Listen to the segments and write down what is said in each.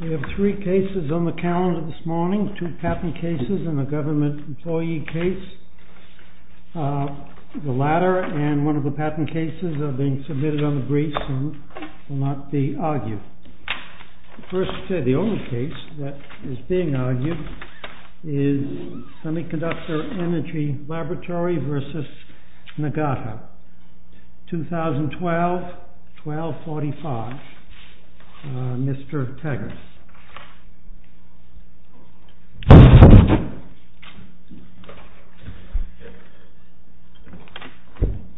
We have three cases on the calendar this morning, two patent cases and a government employee case. The latter and one of the patent cases are being submitted on the briefs and will not be argued. The only case that is being argued is Semiconductor Energy Laboratory v. NAGATA, 2012-12-45. Mr. Taggart.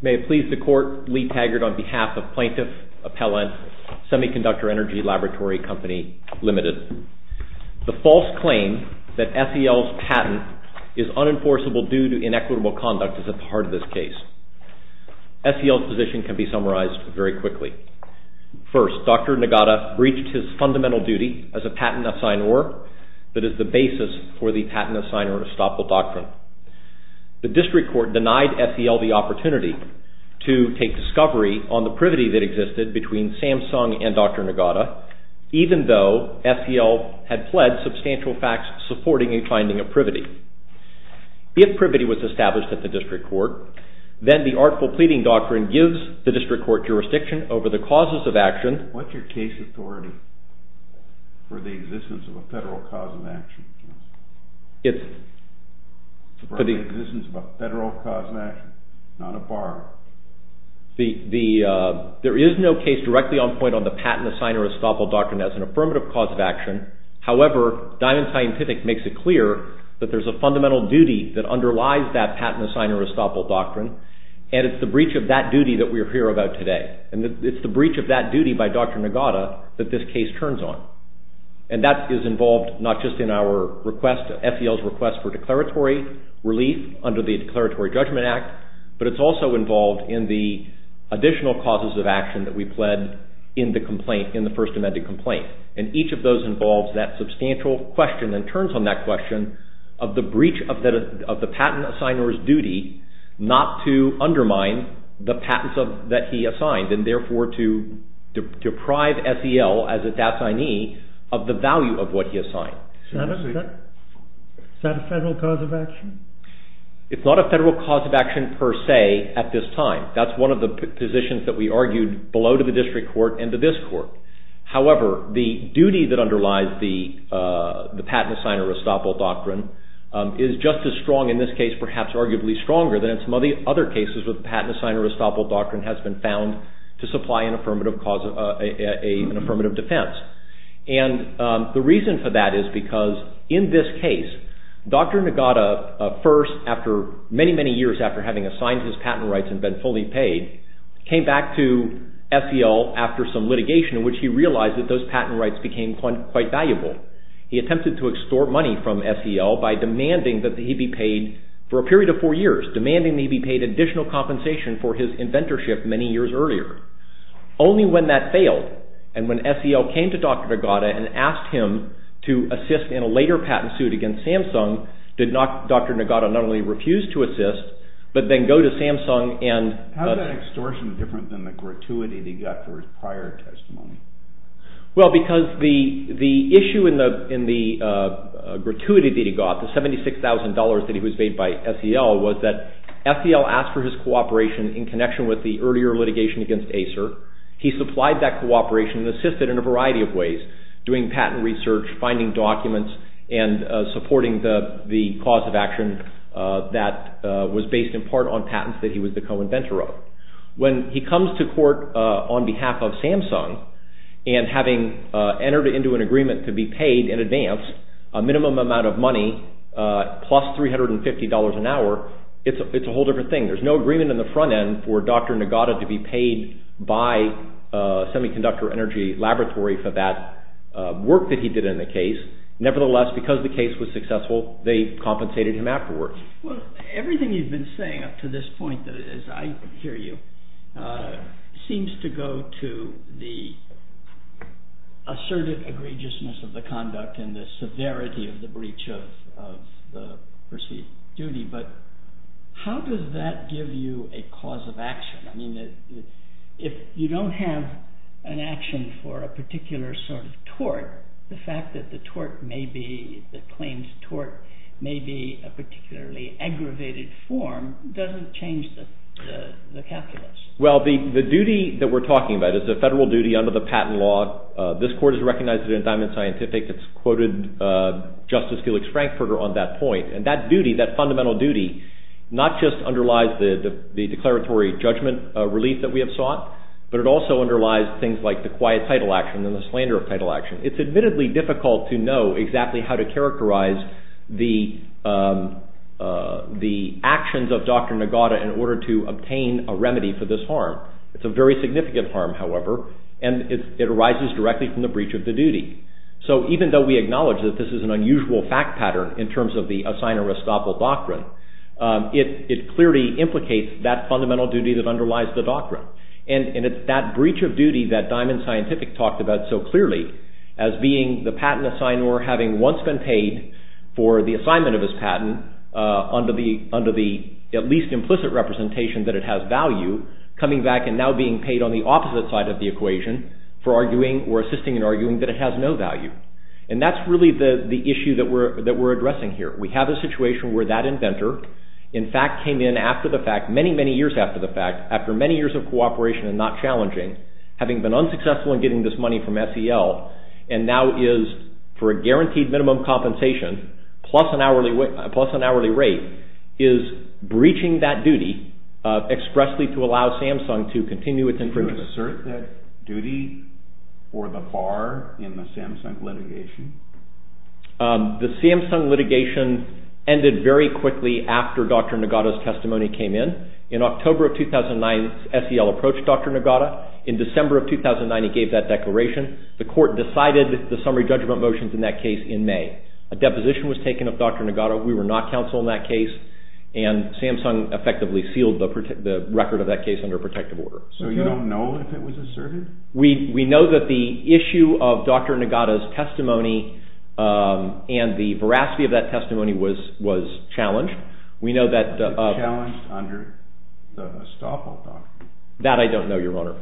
May it please the Court, Lee Taggart on behalf of Plaintiff Appellant Semiconductor Energy Laboratory Company Limited. The false claim that SEL's patent is unenforceable due to SEL's position can be summarized very quickly. First, Dr. Nagata reached his fundamental duty as a patent assignor that is the basis for the patent assignor estoppel doctrine. The district court denied SEL the opportunity to take discovery on the privity that existed between Samsung and Dr. Nagata, even though SEL had pled substantial facts supporting a finding of privity. If privity was established at the district court, then the artful pleading doctrine gives the district court jurisdiction over the causes of action. What is your case authority for the existence of a federal cause of action? For the existence of a federal cause of action, not a bar. There is no case directly on point on the patent assignor estoppel doctrine as an affirmative cause of action. However, Diamond Scientific makes it clear that there is a fundamental duty that underlies that patent assignor estoppel doctrine, and it's the breach of that duty that we are here about today. It's the breach of that duty by Dr. Nagata that this case turns on. And that is involved not just in our request, SEL's request for declaratory relief under the Declaratory Judgment Act, but it's also involved in the additional causes of action that we pled in the first amended complaint. And each of those involves that substantial question and turns on that question of the breach of the patent assignor's duty not to undermine the patents that he assigned, and therefore to deprive SEL as an assignee of the value of what he assigned. Is that a federal cause of action? It's not a federal cause of action per se at this time. That's one of the positions that we argued below to the district court and to this court. However, the duty that underlies the patent assignor estoppel doctrine is just as strong in this case, perhaps arguably stronger than in some of the other cases where the patent assignor estoppel doctrine has been found to supply an affirmative defense. And the reason for that is because in this case, Dr. Nagata first, many, many years after having assigned his patent rights and been fully paid, came back to SEL after some litigation in which he realized that those patent rights became quite valuable. He attempted to extort money from SEL by demanding that he be paid for a period of four years, demanding that he be paid additional compensation for his inventorship many years earlier. Only when that failed and when SEL came to Dr. Nagata and asked him to assist in a later patent suit against Samsung, did Dr. Nagata not only refuse to assist, but then go to Samsung and... How is that extortion different than the gratuity that he got for his prior testimony? Well, because the issue in the gratuity that he got, the $76,000 that he was paid by SEL, was that SEL asked for his cooperation in connection with the earlier litigation against Acer. He supplied that cooperation and assisted in a variety of ways, doing patent research, finding documents, and supporting the cause of action that was based in part on patents that he was the co-inventor of. When he comes to court on behalf of Samsung and having entered into an agreement to be paid in advance a minimum amount of money, plus $350 an hour, it's a whole different thing. There's no agreement on the front end for Dr. Nagata to be paid by Semiconductor Energy Laboratory for that work that he did in the case. Nevertheless, because the case was successful, they compensated him afterward. Everything you've been saying up to this point, as I hear you, seems to go to the assertive egregiousness of the conduct and the severity of the breach of the perceived duty. How does that give you a cause of action? If you don't have an action for a particular sort of tort, the fact that the claims tort may be a particularly aggravated form doesn't change the calculus. The duty that we're talking about is a federal duty under the patent law. This court has recognized it in Diamond Scientific. It's quoted Justice Felix Frankfurter on that point. That duty, that fundamental duty, not just underlies the declaratory judgment relief that we have sought, but it also underlies things like the quiet title action and the slander of title action. It's admittedly difficult to know exactly how to characterize the actions of Dr. Nagata in order to obtain a remedy for this harm. It's a very significant harm, however, and it arises directly from the breach of the duty. Even though we acknowledge that this is an unusual fact pattern in terms of the assigner-restoppel doctrine, it clearly implicates that fundamental duty that underlies the doctrine. It's that breach of duty that Diamond Scientific talked about so clearly as being the patent assignor having once been paid for the assignment of his patent under the at least implicit representation that it has value, coming back and now being paid on the opposite side of the equation for arguing or assisting in arguing that it has no value. And that's really the issue that we're addressing here. We have a situation where that inventor, in fact, came in after the fact, many, many years after the fact, after many years of cooperation and not challenging, having been unsuccessful in getting this money from SEL, and now is, for a guaranteed minimum compensation plus an hourly rate, is breaching that duty expressly to allow Samsung to continue its improvement. Do you assert that duty for the bar in the Samsung litigation? The Samsung litigation ended very quickly after Dr. Nogata's testimony came in. In October of 2009, SEL approached Dr. Nogata. In December of 2009, he gave that declaration. The court decided the summary judgment motions in that case in May. A deposition was taken of Dr. Nogata. We were not counsel in that case, and Samsung effectively sealed the record of that case under protective order. So you don't know if it was asserted? We know that the issue of Dr. Nogata's testimony and the veracity of that testimony was challenged. We know that... Challenged under the estoppel doctrine? That I don't know, Your Honor.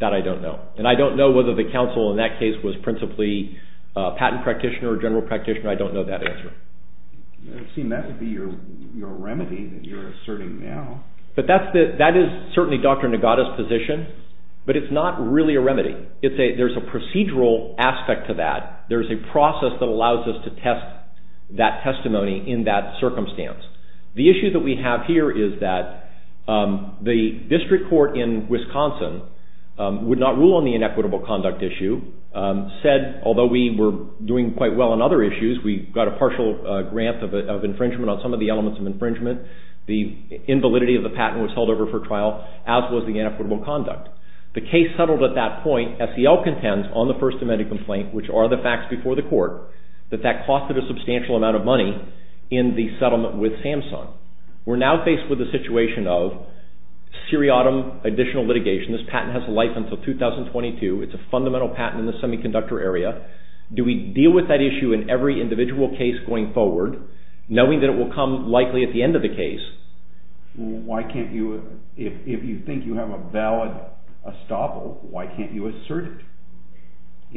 That I don't know. And I don't know whether the counsel in that case was principally a patent practitioner or general practitioner. I don't know that answer. It would seem that would be your remedy that you're asserting now. But that is certainly Dr. Nogata's position, but it's not really a remedy. There's a procedural aspect to that. There's a process that allows us to test that testimony in that circumstance. The issue that we have here is that the district court in Wisconsin would not rule on the inequitable conduct issue. Said, although we were doing quite well on other issues, we got a partial grant of infringement on some of the elements of infringement. The invalidity of the patent was held over for trial, as was the inequitable conduct. The case settled at that point. SEL contends on the First Amendment complaint, which are the facts before the court, that that costed a substantial amount of money in the settlement with Samsung. We're now faced with a situation of seriatim additional litigation. This patent has a life until 2022. It's a fundamental patent in the semiconductor area. Do we deal with that issue in every individual case going forward, knowing that it will come likely at the end of the case? Why can't you, if you think you have a valid estoppel, why can't you assert it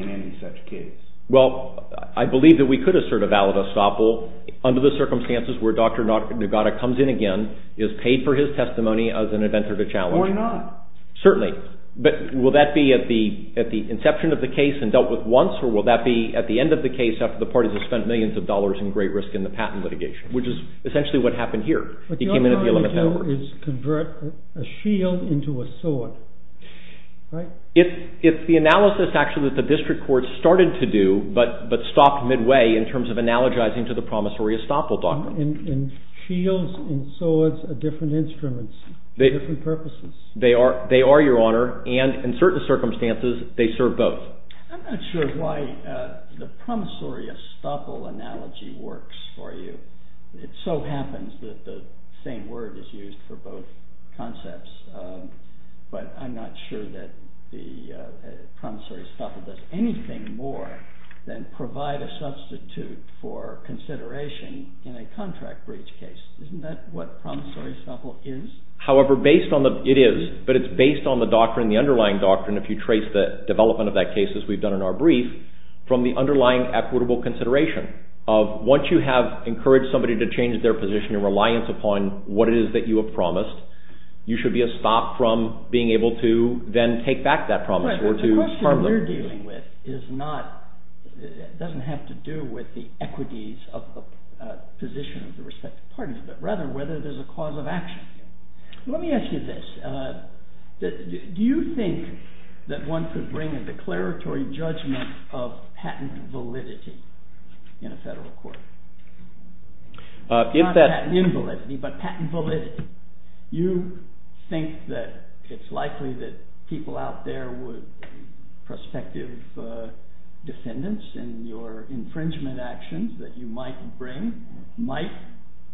in any such case? Well, I believe that we could assert a valid estoppel under the circumstances where Dr. Nogata comes in again, is paid for his testimony as an inventor to challenge. Why not? Certainly. But will that be at the inception of the case and dealt with once, or will that be at the end of the case after the parties have spent millions of dollars in great risk in the patent litigation, which is essentially what happened here. He came in at the 11th What you're trying to do is convert a shield into a sword, right? If the analysis, actually, that the district courts started to do, but stopped midway in terms of analogizing to the promissory estoppel document. And shields and swords are different instruments, different purposes. They are, Your Honor. And in certain circumstances, they serve both. I'm not sure why the promissory estoppel analogy works for you. It so happens that the same word is used for both concepts. But I'm not sure that the promissory estoppel does anything more than provide a substitute for consideration in a contract breach case. Isn't that what promissory estoppel is? However, based on the, it is, but it's based on the doctrine, the underlying doctrine, if you trace the development of that case, as we've done in our brief, from the underlying equitable consideration of once you have encouraged somebody to change their position in reliance upon what it is that you have promised, you should be a stop from being able to then take back that promise. Right, but the question we're dealing with is not, doesn't have to do with the equities of the position of the respective parties, but rather whether there's a cause of action. Let me ask you this. Do you think that one could bring a declaratory judgment of patent validity in a federal court? Not patent invalidity, but patent validity. You think that it's likely that people out there would, prospective defendants in your infringement actions that you might bring, might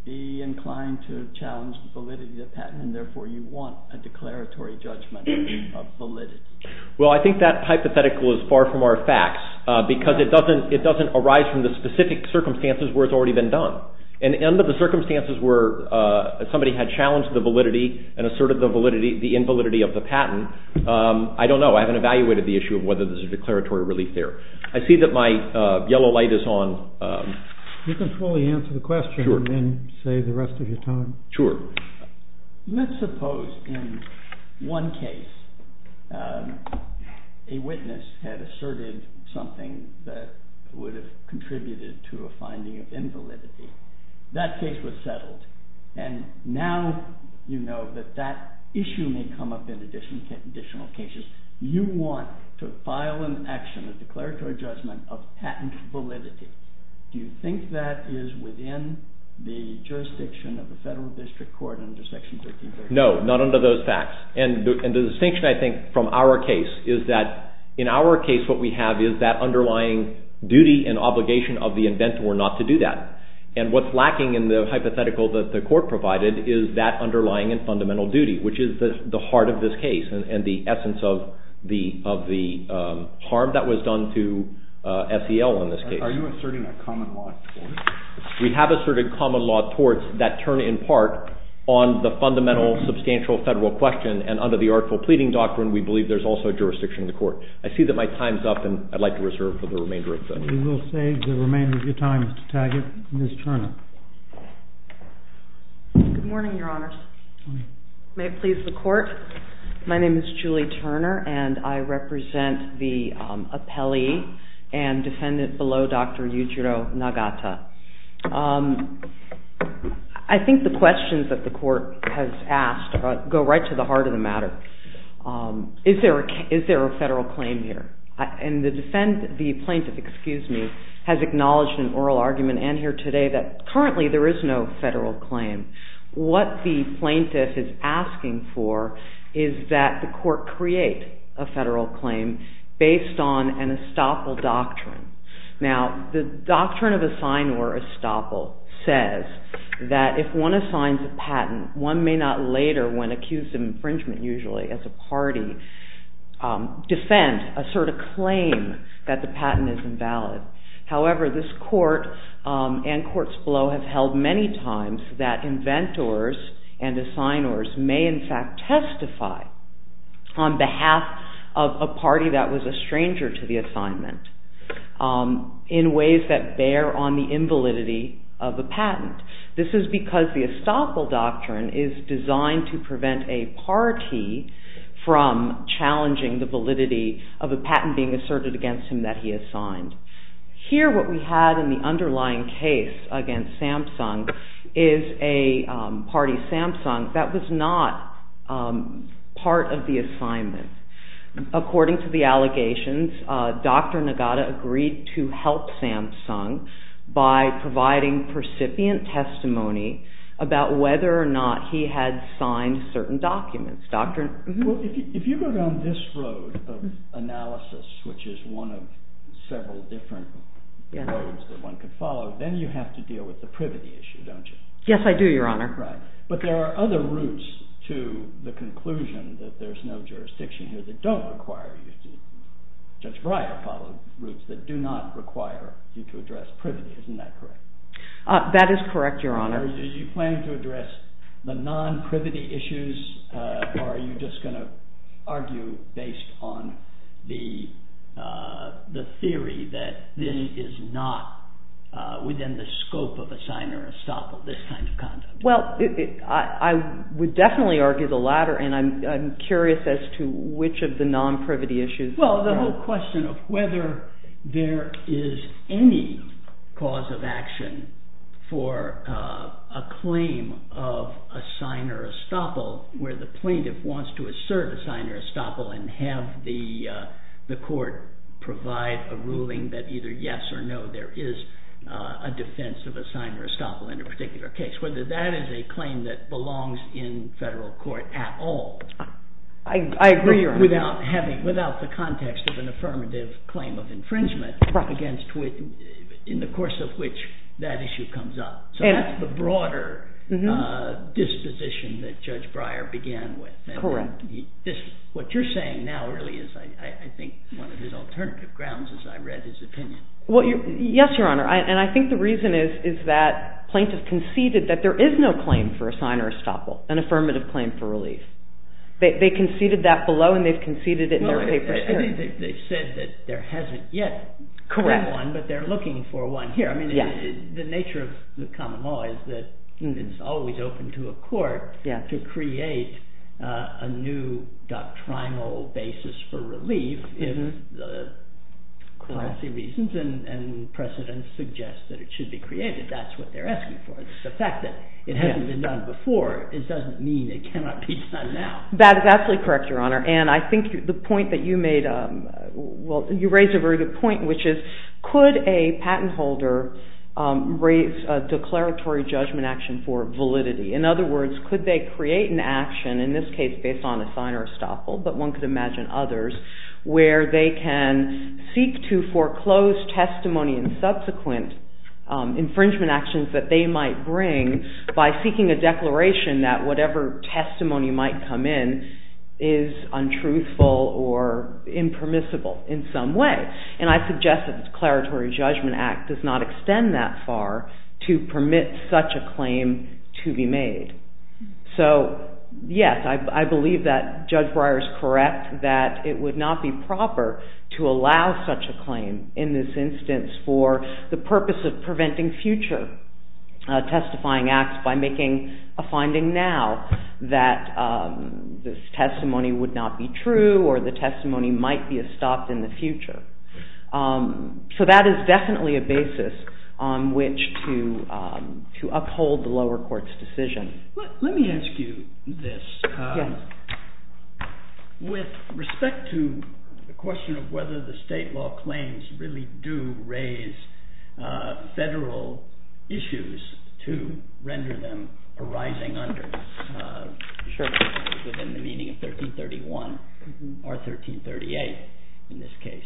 be inclined to challenge validity of the patent, and therefore you want a declaratory judgment of validity. Well, I think that hypothetical is far from our facts, because it doesn't arise from the specific circumstances where it's already been done. And under the circumstances where somebody had challenged the validity and asserted the validity, the invalidity of the patent, I don't know, I haven't evaluated the issue of whether there's a declaratory relief there. I see that my yellow light is on. You can fully answer the question and then save the rest of your time. Sure. Let's suppose in one case a witness had asserted something that would have contributed to a finding of invalidity. That case was settled. And now you know that that issue may come up in additional cases. You want to file an action, a declaratory judgment of patent validity. Do you think that is within the jurisdiction of the federal district court under Section 1333? No, not under those facts. And the distinction, I think, from our case is that in our case what we have is that underlying duty and obligation of the inventor not to do that. And what's lacking in the hypothetical that the court provided is that underlying and fundamental duty, which is the heart of this case and the essence of the harm that was done to SEL in this case. Are you asserting a common law tort? We have asserted common law torts that turn in part on the fundamental substantial federal question and under the Artful Pleading Doctrine we believe there's also a jurisdiction in the court. I see that my time's up and I'd like to reserve for the remainder of the... We will save the remainder of your time, Mr. Taggett. Ms. Turner. Good morning, Your Honors. May it please the court? My name is Julie Turner and I represent the appellee and defendant below Dr. Yuchiro Nagata. I think the questions that the court has asked go right to the heart of the matter. Is there a federal claim here? And the plaintiff has acknowledged in oral argument and here today that currently there is no federal claim. What the plaintiff is asking for is that the court create a federal claim based on an estoppel doctrine. Now, the doctrine of assign or estoppel says that if one assigns a patent one may not later, when accused of infringement usually, as a party, defend, assert a claim that the patent is invalid. However, this court and courts below have held many times that inventors and assigners may in fact testify on behalf of a party that was a stranger to the assignment in ways that bear on the invalidity of a patent. This is because the estoppel doctrine is designed to prevent a party from challenging the validity of a patent being asserted against him that he assigned. Here what we have in the underlying case against Samsung is a party Samsung that was not part of the assignment. According to the allegations, Dr. Nagata agreed to help Samsung by providing percipient testimony about whether or not he had signed certain documents. If you go down this road of analysis which is one of several different roads that one can follow, then you have to deal with the privity issue, don't you? Yes, I do, Your Honor. But there are other routes to the conclusion that there's no jurisdiction here that don't require you to... Judge Breyer followed routes that do not require you to address privity, isn't that correct? That is correct, Your Honor. Are you planning to address the non-privity issues or are you just going to argue based on the theory that this is not within the scope of assign or estoppel, this kind of conduct? Well, I would definitely argue the latter and I'm curious as to which of the non-privity issues... Well, the whole question of whether there is any cause of action for a claim of assign or estoppel where the plaintiff wants to serve assign or estoppel and have the court provide a ruling that either yes or no, there is a defense of assign or estoppel in a particular case. Whether that is a claim that belongs in federal court at all. Without the context of an affirmative claim of infringement in the course of which that issue comes up. So that's the broader disposition that Judge Breyer began with. What you're saying now really is one of his alternative grounds as I read his opinion. Yes, Your Honor, and I think the reason is that plaintiff conceded that there is no claim for assign or estoppel an affirmative claim for relief. They conceded that below and they've conceded it in their papers too. I think they've said that there hasn't yet been one but they're looking for one here. The nature of the common law is that it's always open to a court to create a new doctrinal basis for relief if the policy reasons and precedents suggest that it should be created. That's what they're asking for. The fact that it hasn't been done before doesn't mean it cannot be done now. That is absolutely correct, Your Honor. You raised a very good point which is could a patent holder raise a declaratory judgment action for validity? In other words, could they create an action in this case based on assign or estoppel but one could imagine others where they can seek to foreclose testimony and subsequent infringement actions that they might bring by seeking a declaration that whatever is untruthful or impermissible in some way. I suggest that the declaratory judgment act does not extend that far to permit such a claim to be made. Yes, I believe that Judge Breyer is correct that it would not be proper to allow such a claim in this instance for the purpose of preventing future testifying acts by making a finding now that this testimony would not be true or the testimony might be estopped in the future. So that is definitely a basis on which to uphold the lower court's decision. Let me ask you this. With respect to the question of whether the state law claims really do raise federal issues to render them arising under within the meaning of 1331 or 1338 in this case.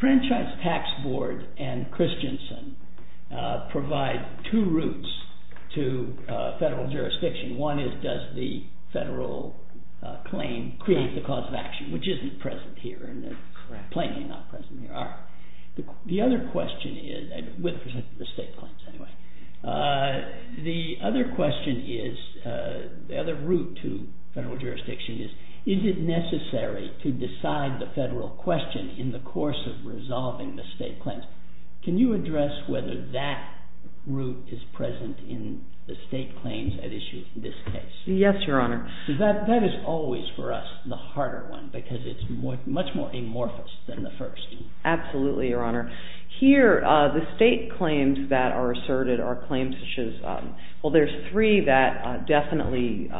Franchise Tax Board and Christiansen provide two routes to federal jurisdiction. One is does the federal claim create the cause of action which isn't present here or plainly not present here. The other question is the other question is the other route to federal jurisdiction is it necessary to decide the federal question in the course of resolving the state claims. Can you address whether that route is present in the state claims at issue in this case? Yes, Your Honor. That is always for us the harder one because it is much more amorphous than the first. Absolutely, Your Honor. Here the state claims that are asserted there are three that definitely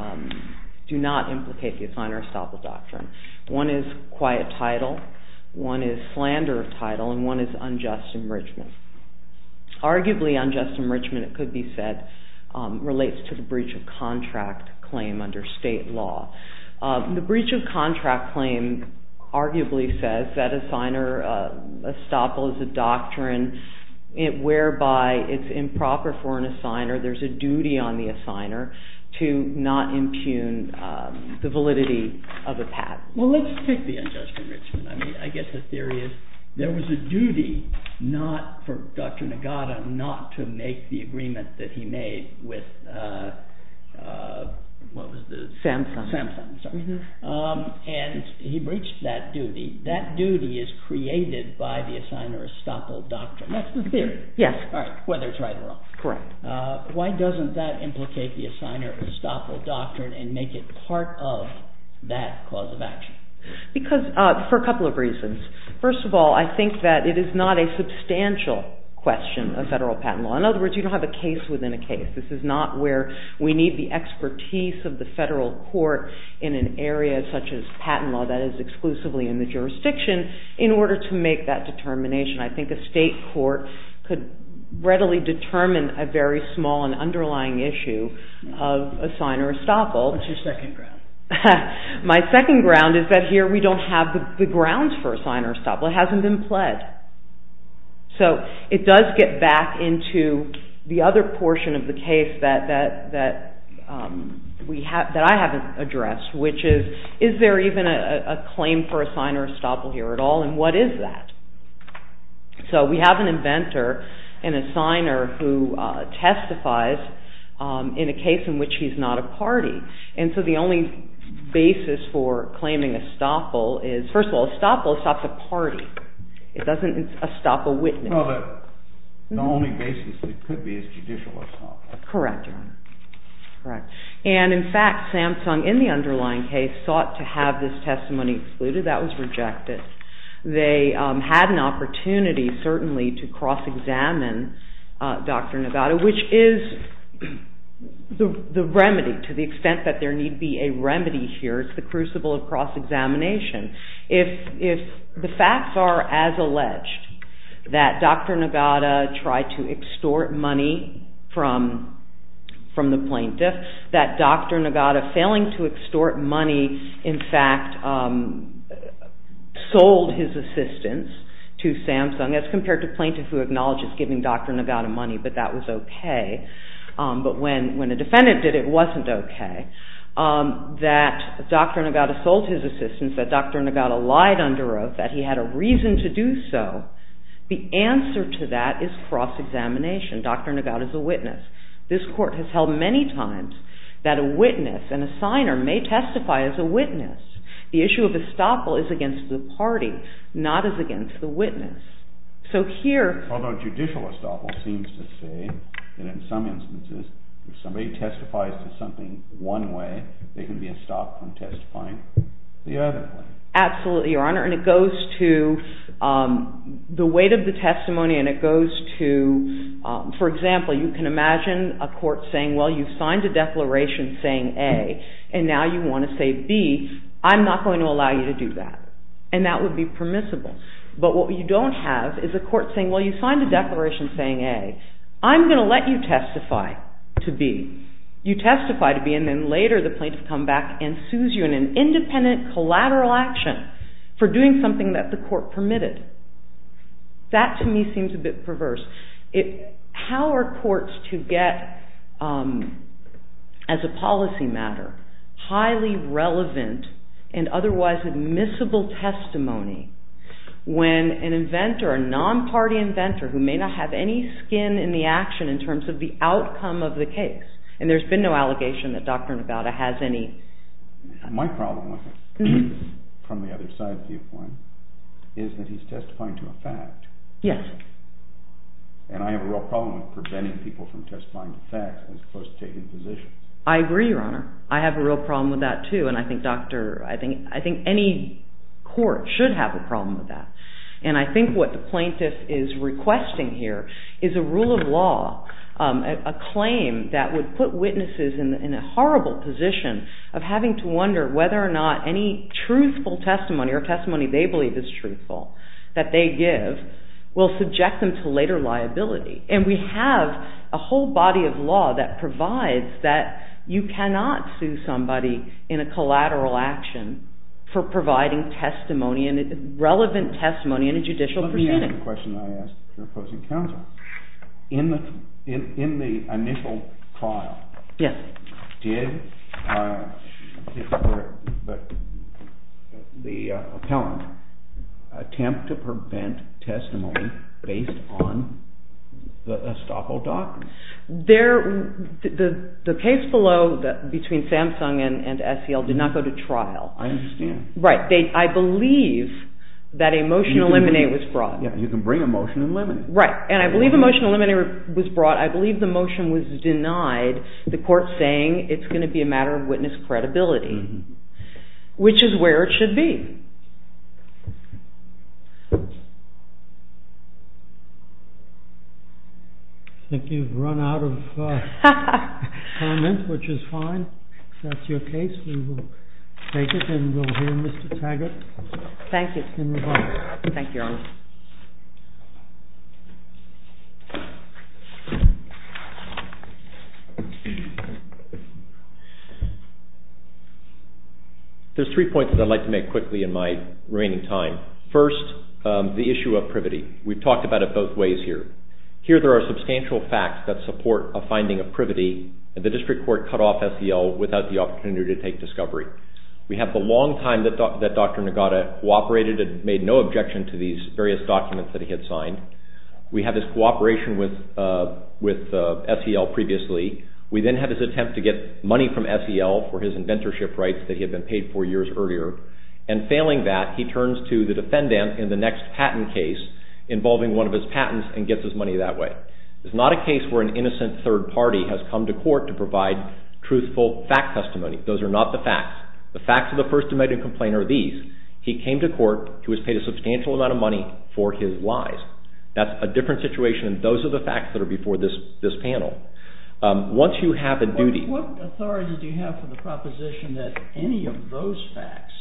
do not implicate the Assign or Estoppel Doctrine. One is quiet title, one is slander of title and one is unjust enrichment. Arguably unjust enrichment it could be said relates to the breach of contract claim under state law. The breach of contract claim arguably says that Assign or Estoppel is a doctrine whereby it is improper for an Assigner there is a duty on the Assigner to not impugn the validity of a patent. Well, let's take the unjust enrichment. I guess the theory is there was a duty for Dr. Nagata not to make the agreement that he made with Samsung. He breached that duty that duty is created by the Assign or Estoppel Doctrine. That's the theory. Why doesn't that implicate the Assign or Estoppel Doctrine and make it part of that cause of action? For a couple of reasons. First of all, I think that it is not a substantial question of federal patent law. In other words, you don't have a case within a case. This is not where we need the expertise of the federal court in an area such as patent law that is exclusively in the jurisdiction in order to make that determination. I think a state court could readily determine a very small and underlying issue of Assign or Estoppel. My second ground is that here we don't have the grounds for Assign or Estoppel. It hasn't been pled. It does get back into the other portion of the case that I haven't addressed which is, is there even a claim for Assign or Estoppel here at all and what is that? We have an inventor, an Assigner who testifies in a case in which he is not a party and so the only basis for claiming Estoppel is First of all, Estoppel stops a party. It doesn't stop a witness. The only basis it could be is judicial Estoppel. Correct. In fact, Samsung in the underlying case They had an opportunity certainly to cross-examine Dr. Nagata which is the remedy to the extent that there need be a remedy here It's the crucible of cross-examination. If the facts are as alleged that Dr. Nagata tried to extort money from the plaintiff that Dr. Nagata failing to extort money in fact sold his assistance to Samsung as compared to plaintiff who acknowledges giving Dr. Nagata money but that was okay but when a defendant did it, it wasn't okay that Dr. Nagata sold his assistance that Dr. Nagata lied under oath that he had a reason to do so, the answer to that is cross-examination. Dr. Nagata is a witness. This court has held many times that a witness and a signer may testify as a witness. The issue of Estoppel is against the party not as against the witness. Although judicial Estoppel seems to say that in some instances, if somebody testifies to something one way, they can be stopped from testifying the other way. Absolutely, Your Honor. It goes to the weight of the testimony For example, you can imagine a court saying you signed a declaration saying A and now you want to say B I'm not going to allow you to do that and that would be permissible but what you don't have is a court saying I'm going to let you testify to B you testify to B and then later the plaintiff comes back and sues you in an independent collateral action for doing something that the court permitted That to me seems a bit perverse How are courts to get as a policy matter highly relevant and otherwise admissible testimony when an inventor a non-party inventor who may not have any skin in the action in terms of the outcome of the case and there's been no allegation that Dr. Nagata has any My problem with it is that he's testifying to a fact and I have a real problem with preventing people from testifying to facts I agree, Your Honor I have a real problem with that too I think any court should have a problem with that and I think what the plaintiff is requesting here is a rule of law a claim that would put witnesses in a horrible position of having to wonder whether or not any truthful testimony or testimony they believe is truthful that they give will subject them to later liability and we have a whole body of law that provides that you cannot sue somebody in a collateral action for providing relevant testimony in a judicial proceeding Let me ask the question I asked your opposing counsel In the initial trial did the appellant attempt to prevent testimony based on the estoppel document? The case below between Samsung and SEL did not go to trial I understand I believe that a motion to eliminate was brought You can bring a motion to eliminate Right, and I believe a motion to eliminate was brought I believe the motion was denied the court saying it's going to be a matter of witness credibility which is where it should be I think you've run out of comments, which is fine If that's your case, we will take it and we'll hear Mr. Taggart in rebuttal Thank you There's three points I'd like to make quickly First, the issue of privity We've talked about it both ways Here there are substantial facts that support a finding of privity and the district court cut off SEL without the opportunity to take discovery We have the long time that Dr. Nagata cooperated and made no objection to these various documents that he had signed We have his cooperation with SEL previously We then have his attempt to get money from SEL for his inventorship rights that he had been paid for years earlier and failing that, he turns to the defendant in the next patent case involving one of his patents and gets his money that way It's not a case where an innocent third party has come to court to provide truthful fact testimony Those are not the facts The facts of the First Amendment Complaint are these He came to court, he was paid a substantial amount of money for his lies That's a different situation than those of the facts that are before this panel What authority do you have for the proposition that any of those facts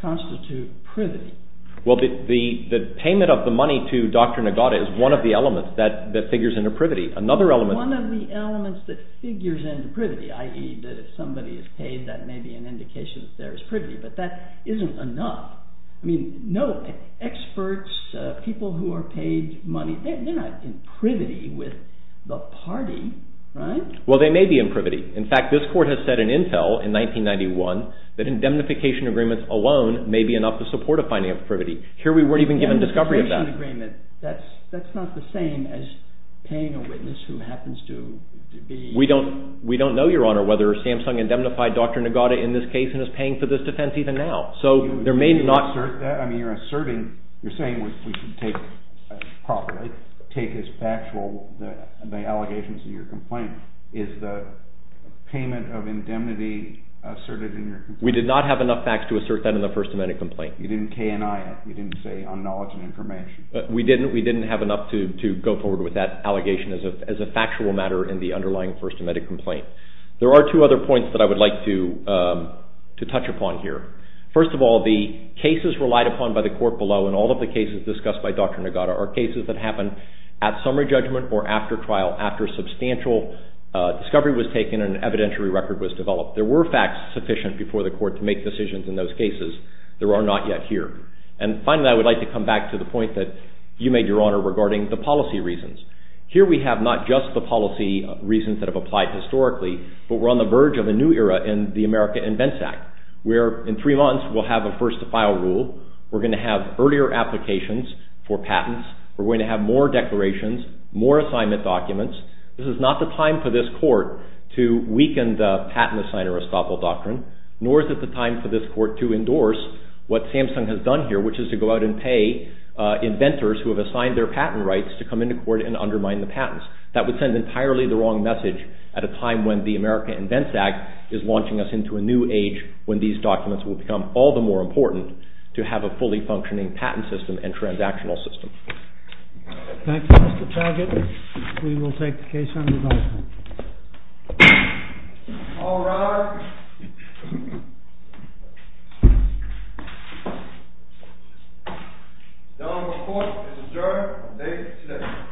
constitute privity? The payment of the money to Dr. Nagata is one of the elements that figures into privity One of the elements that figures into privity i.e. that if somebody is paid, that may be an indication that there is privity, but that isn't enough Experts, people who are paid money they're not in privity with the party They may be in privity In fact, this court has said in Intel in 1991 to support a finding of privity Here we weren't even given discovery of that That's not the same as paying a witness who happens to be We don't know whether Samsung indemnified Dr. Nagata in this case and is paying for this defense even now You're saying we should take as factual the allegations of your complaint Is the payment of indemnity asserted in your complaint? We did not have enough facts to assert that in the First Amendment complaint You didn't say on knowledge and information We didn't have enough to go forward with that allegation as a factual matter in the underlying First Amendment complaint There are two other points that I would like to touch upon First of all, the cases relied upon by the court below and all of the cases discussed by Dr. Nagata are cases that happened at summary judgment or after trial after substantial discovery was taken There were facts sufficient before the court to make decisions in those cases Finally, I would like to come back to the point that you made, Your Honor, regarding the policy reasons Here we have not just the policy reasons that have applied historically but we're on the verge of a new era in the America Invents Act where in three months we'll have a first-to-file rule We're going to have earlier applications for patents We're going to have more declarations, more assignment documents This is not the time for this court to weaken the patent-assigner-estoppel doctrine nor is it the time for this court to endorse what Samsung has done here which is to go out and pay inventors who have assigned their patent rights to come into court and undermine the patents That would send entirely the wrong message at a time when the America Invents Act is launching us into a new age when these documents will become all the more important to have a fully functioning patent system and transactional system Thank you, Mr. Target We will take the case under review All rise The Honorable Court is adjourned for the day today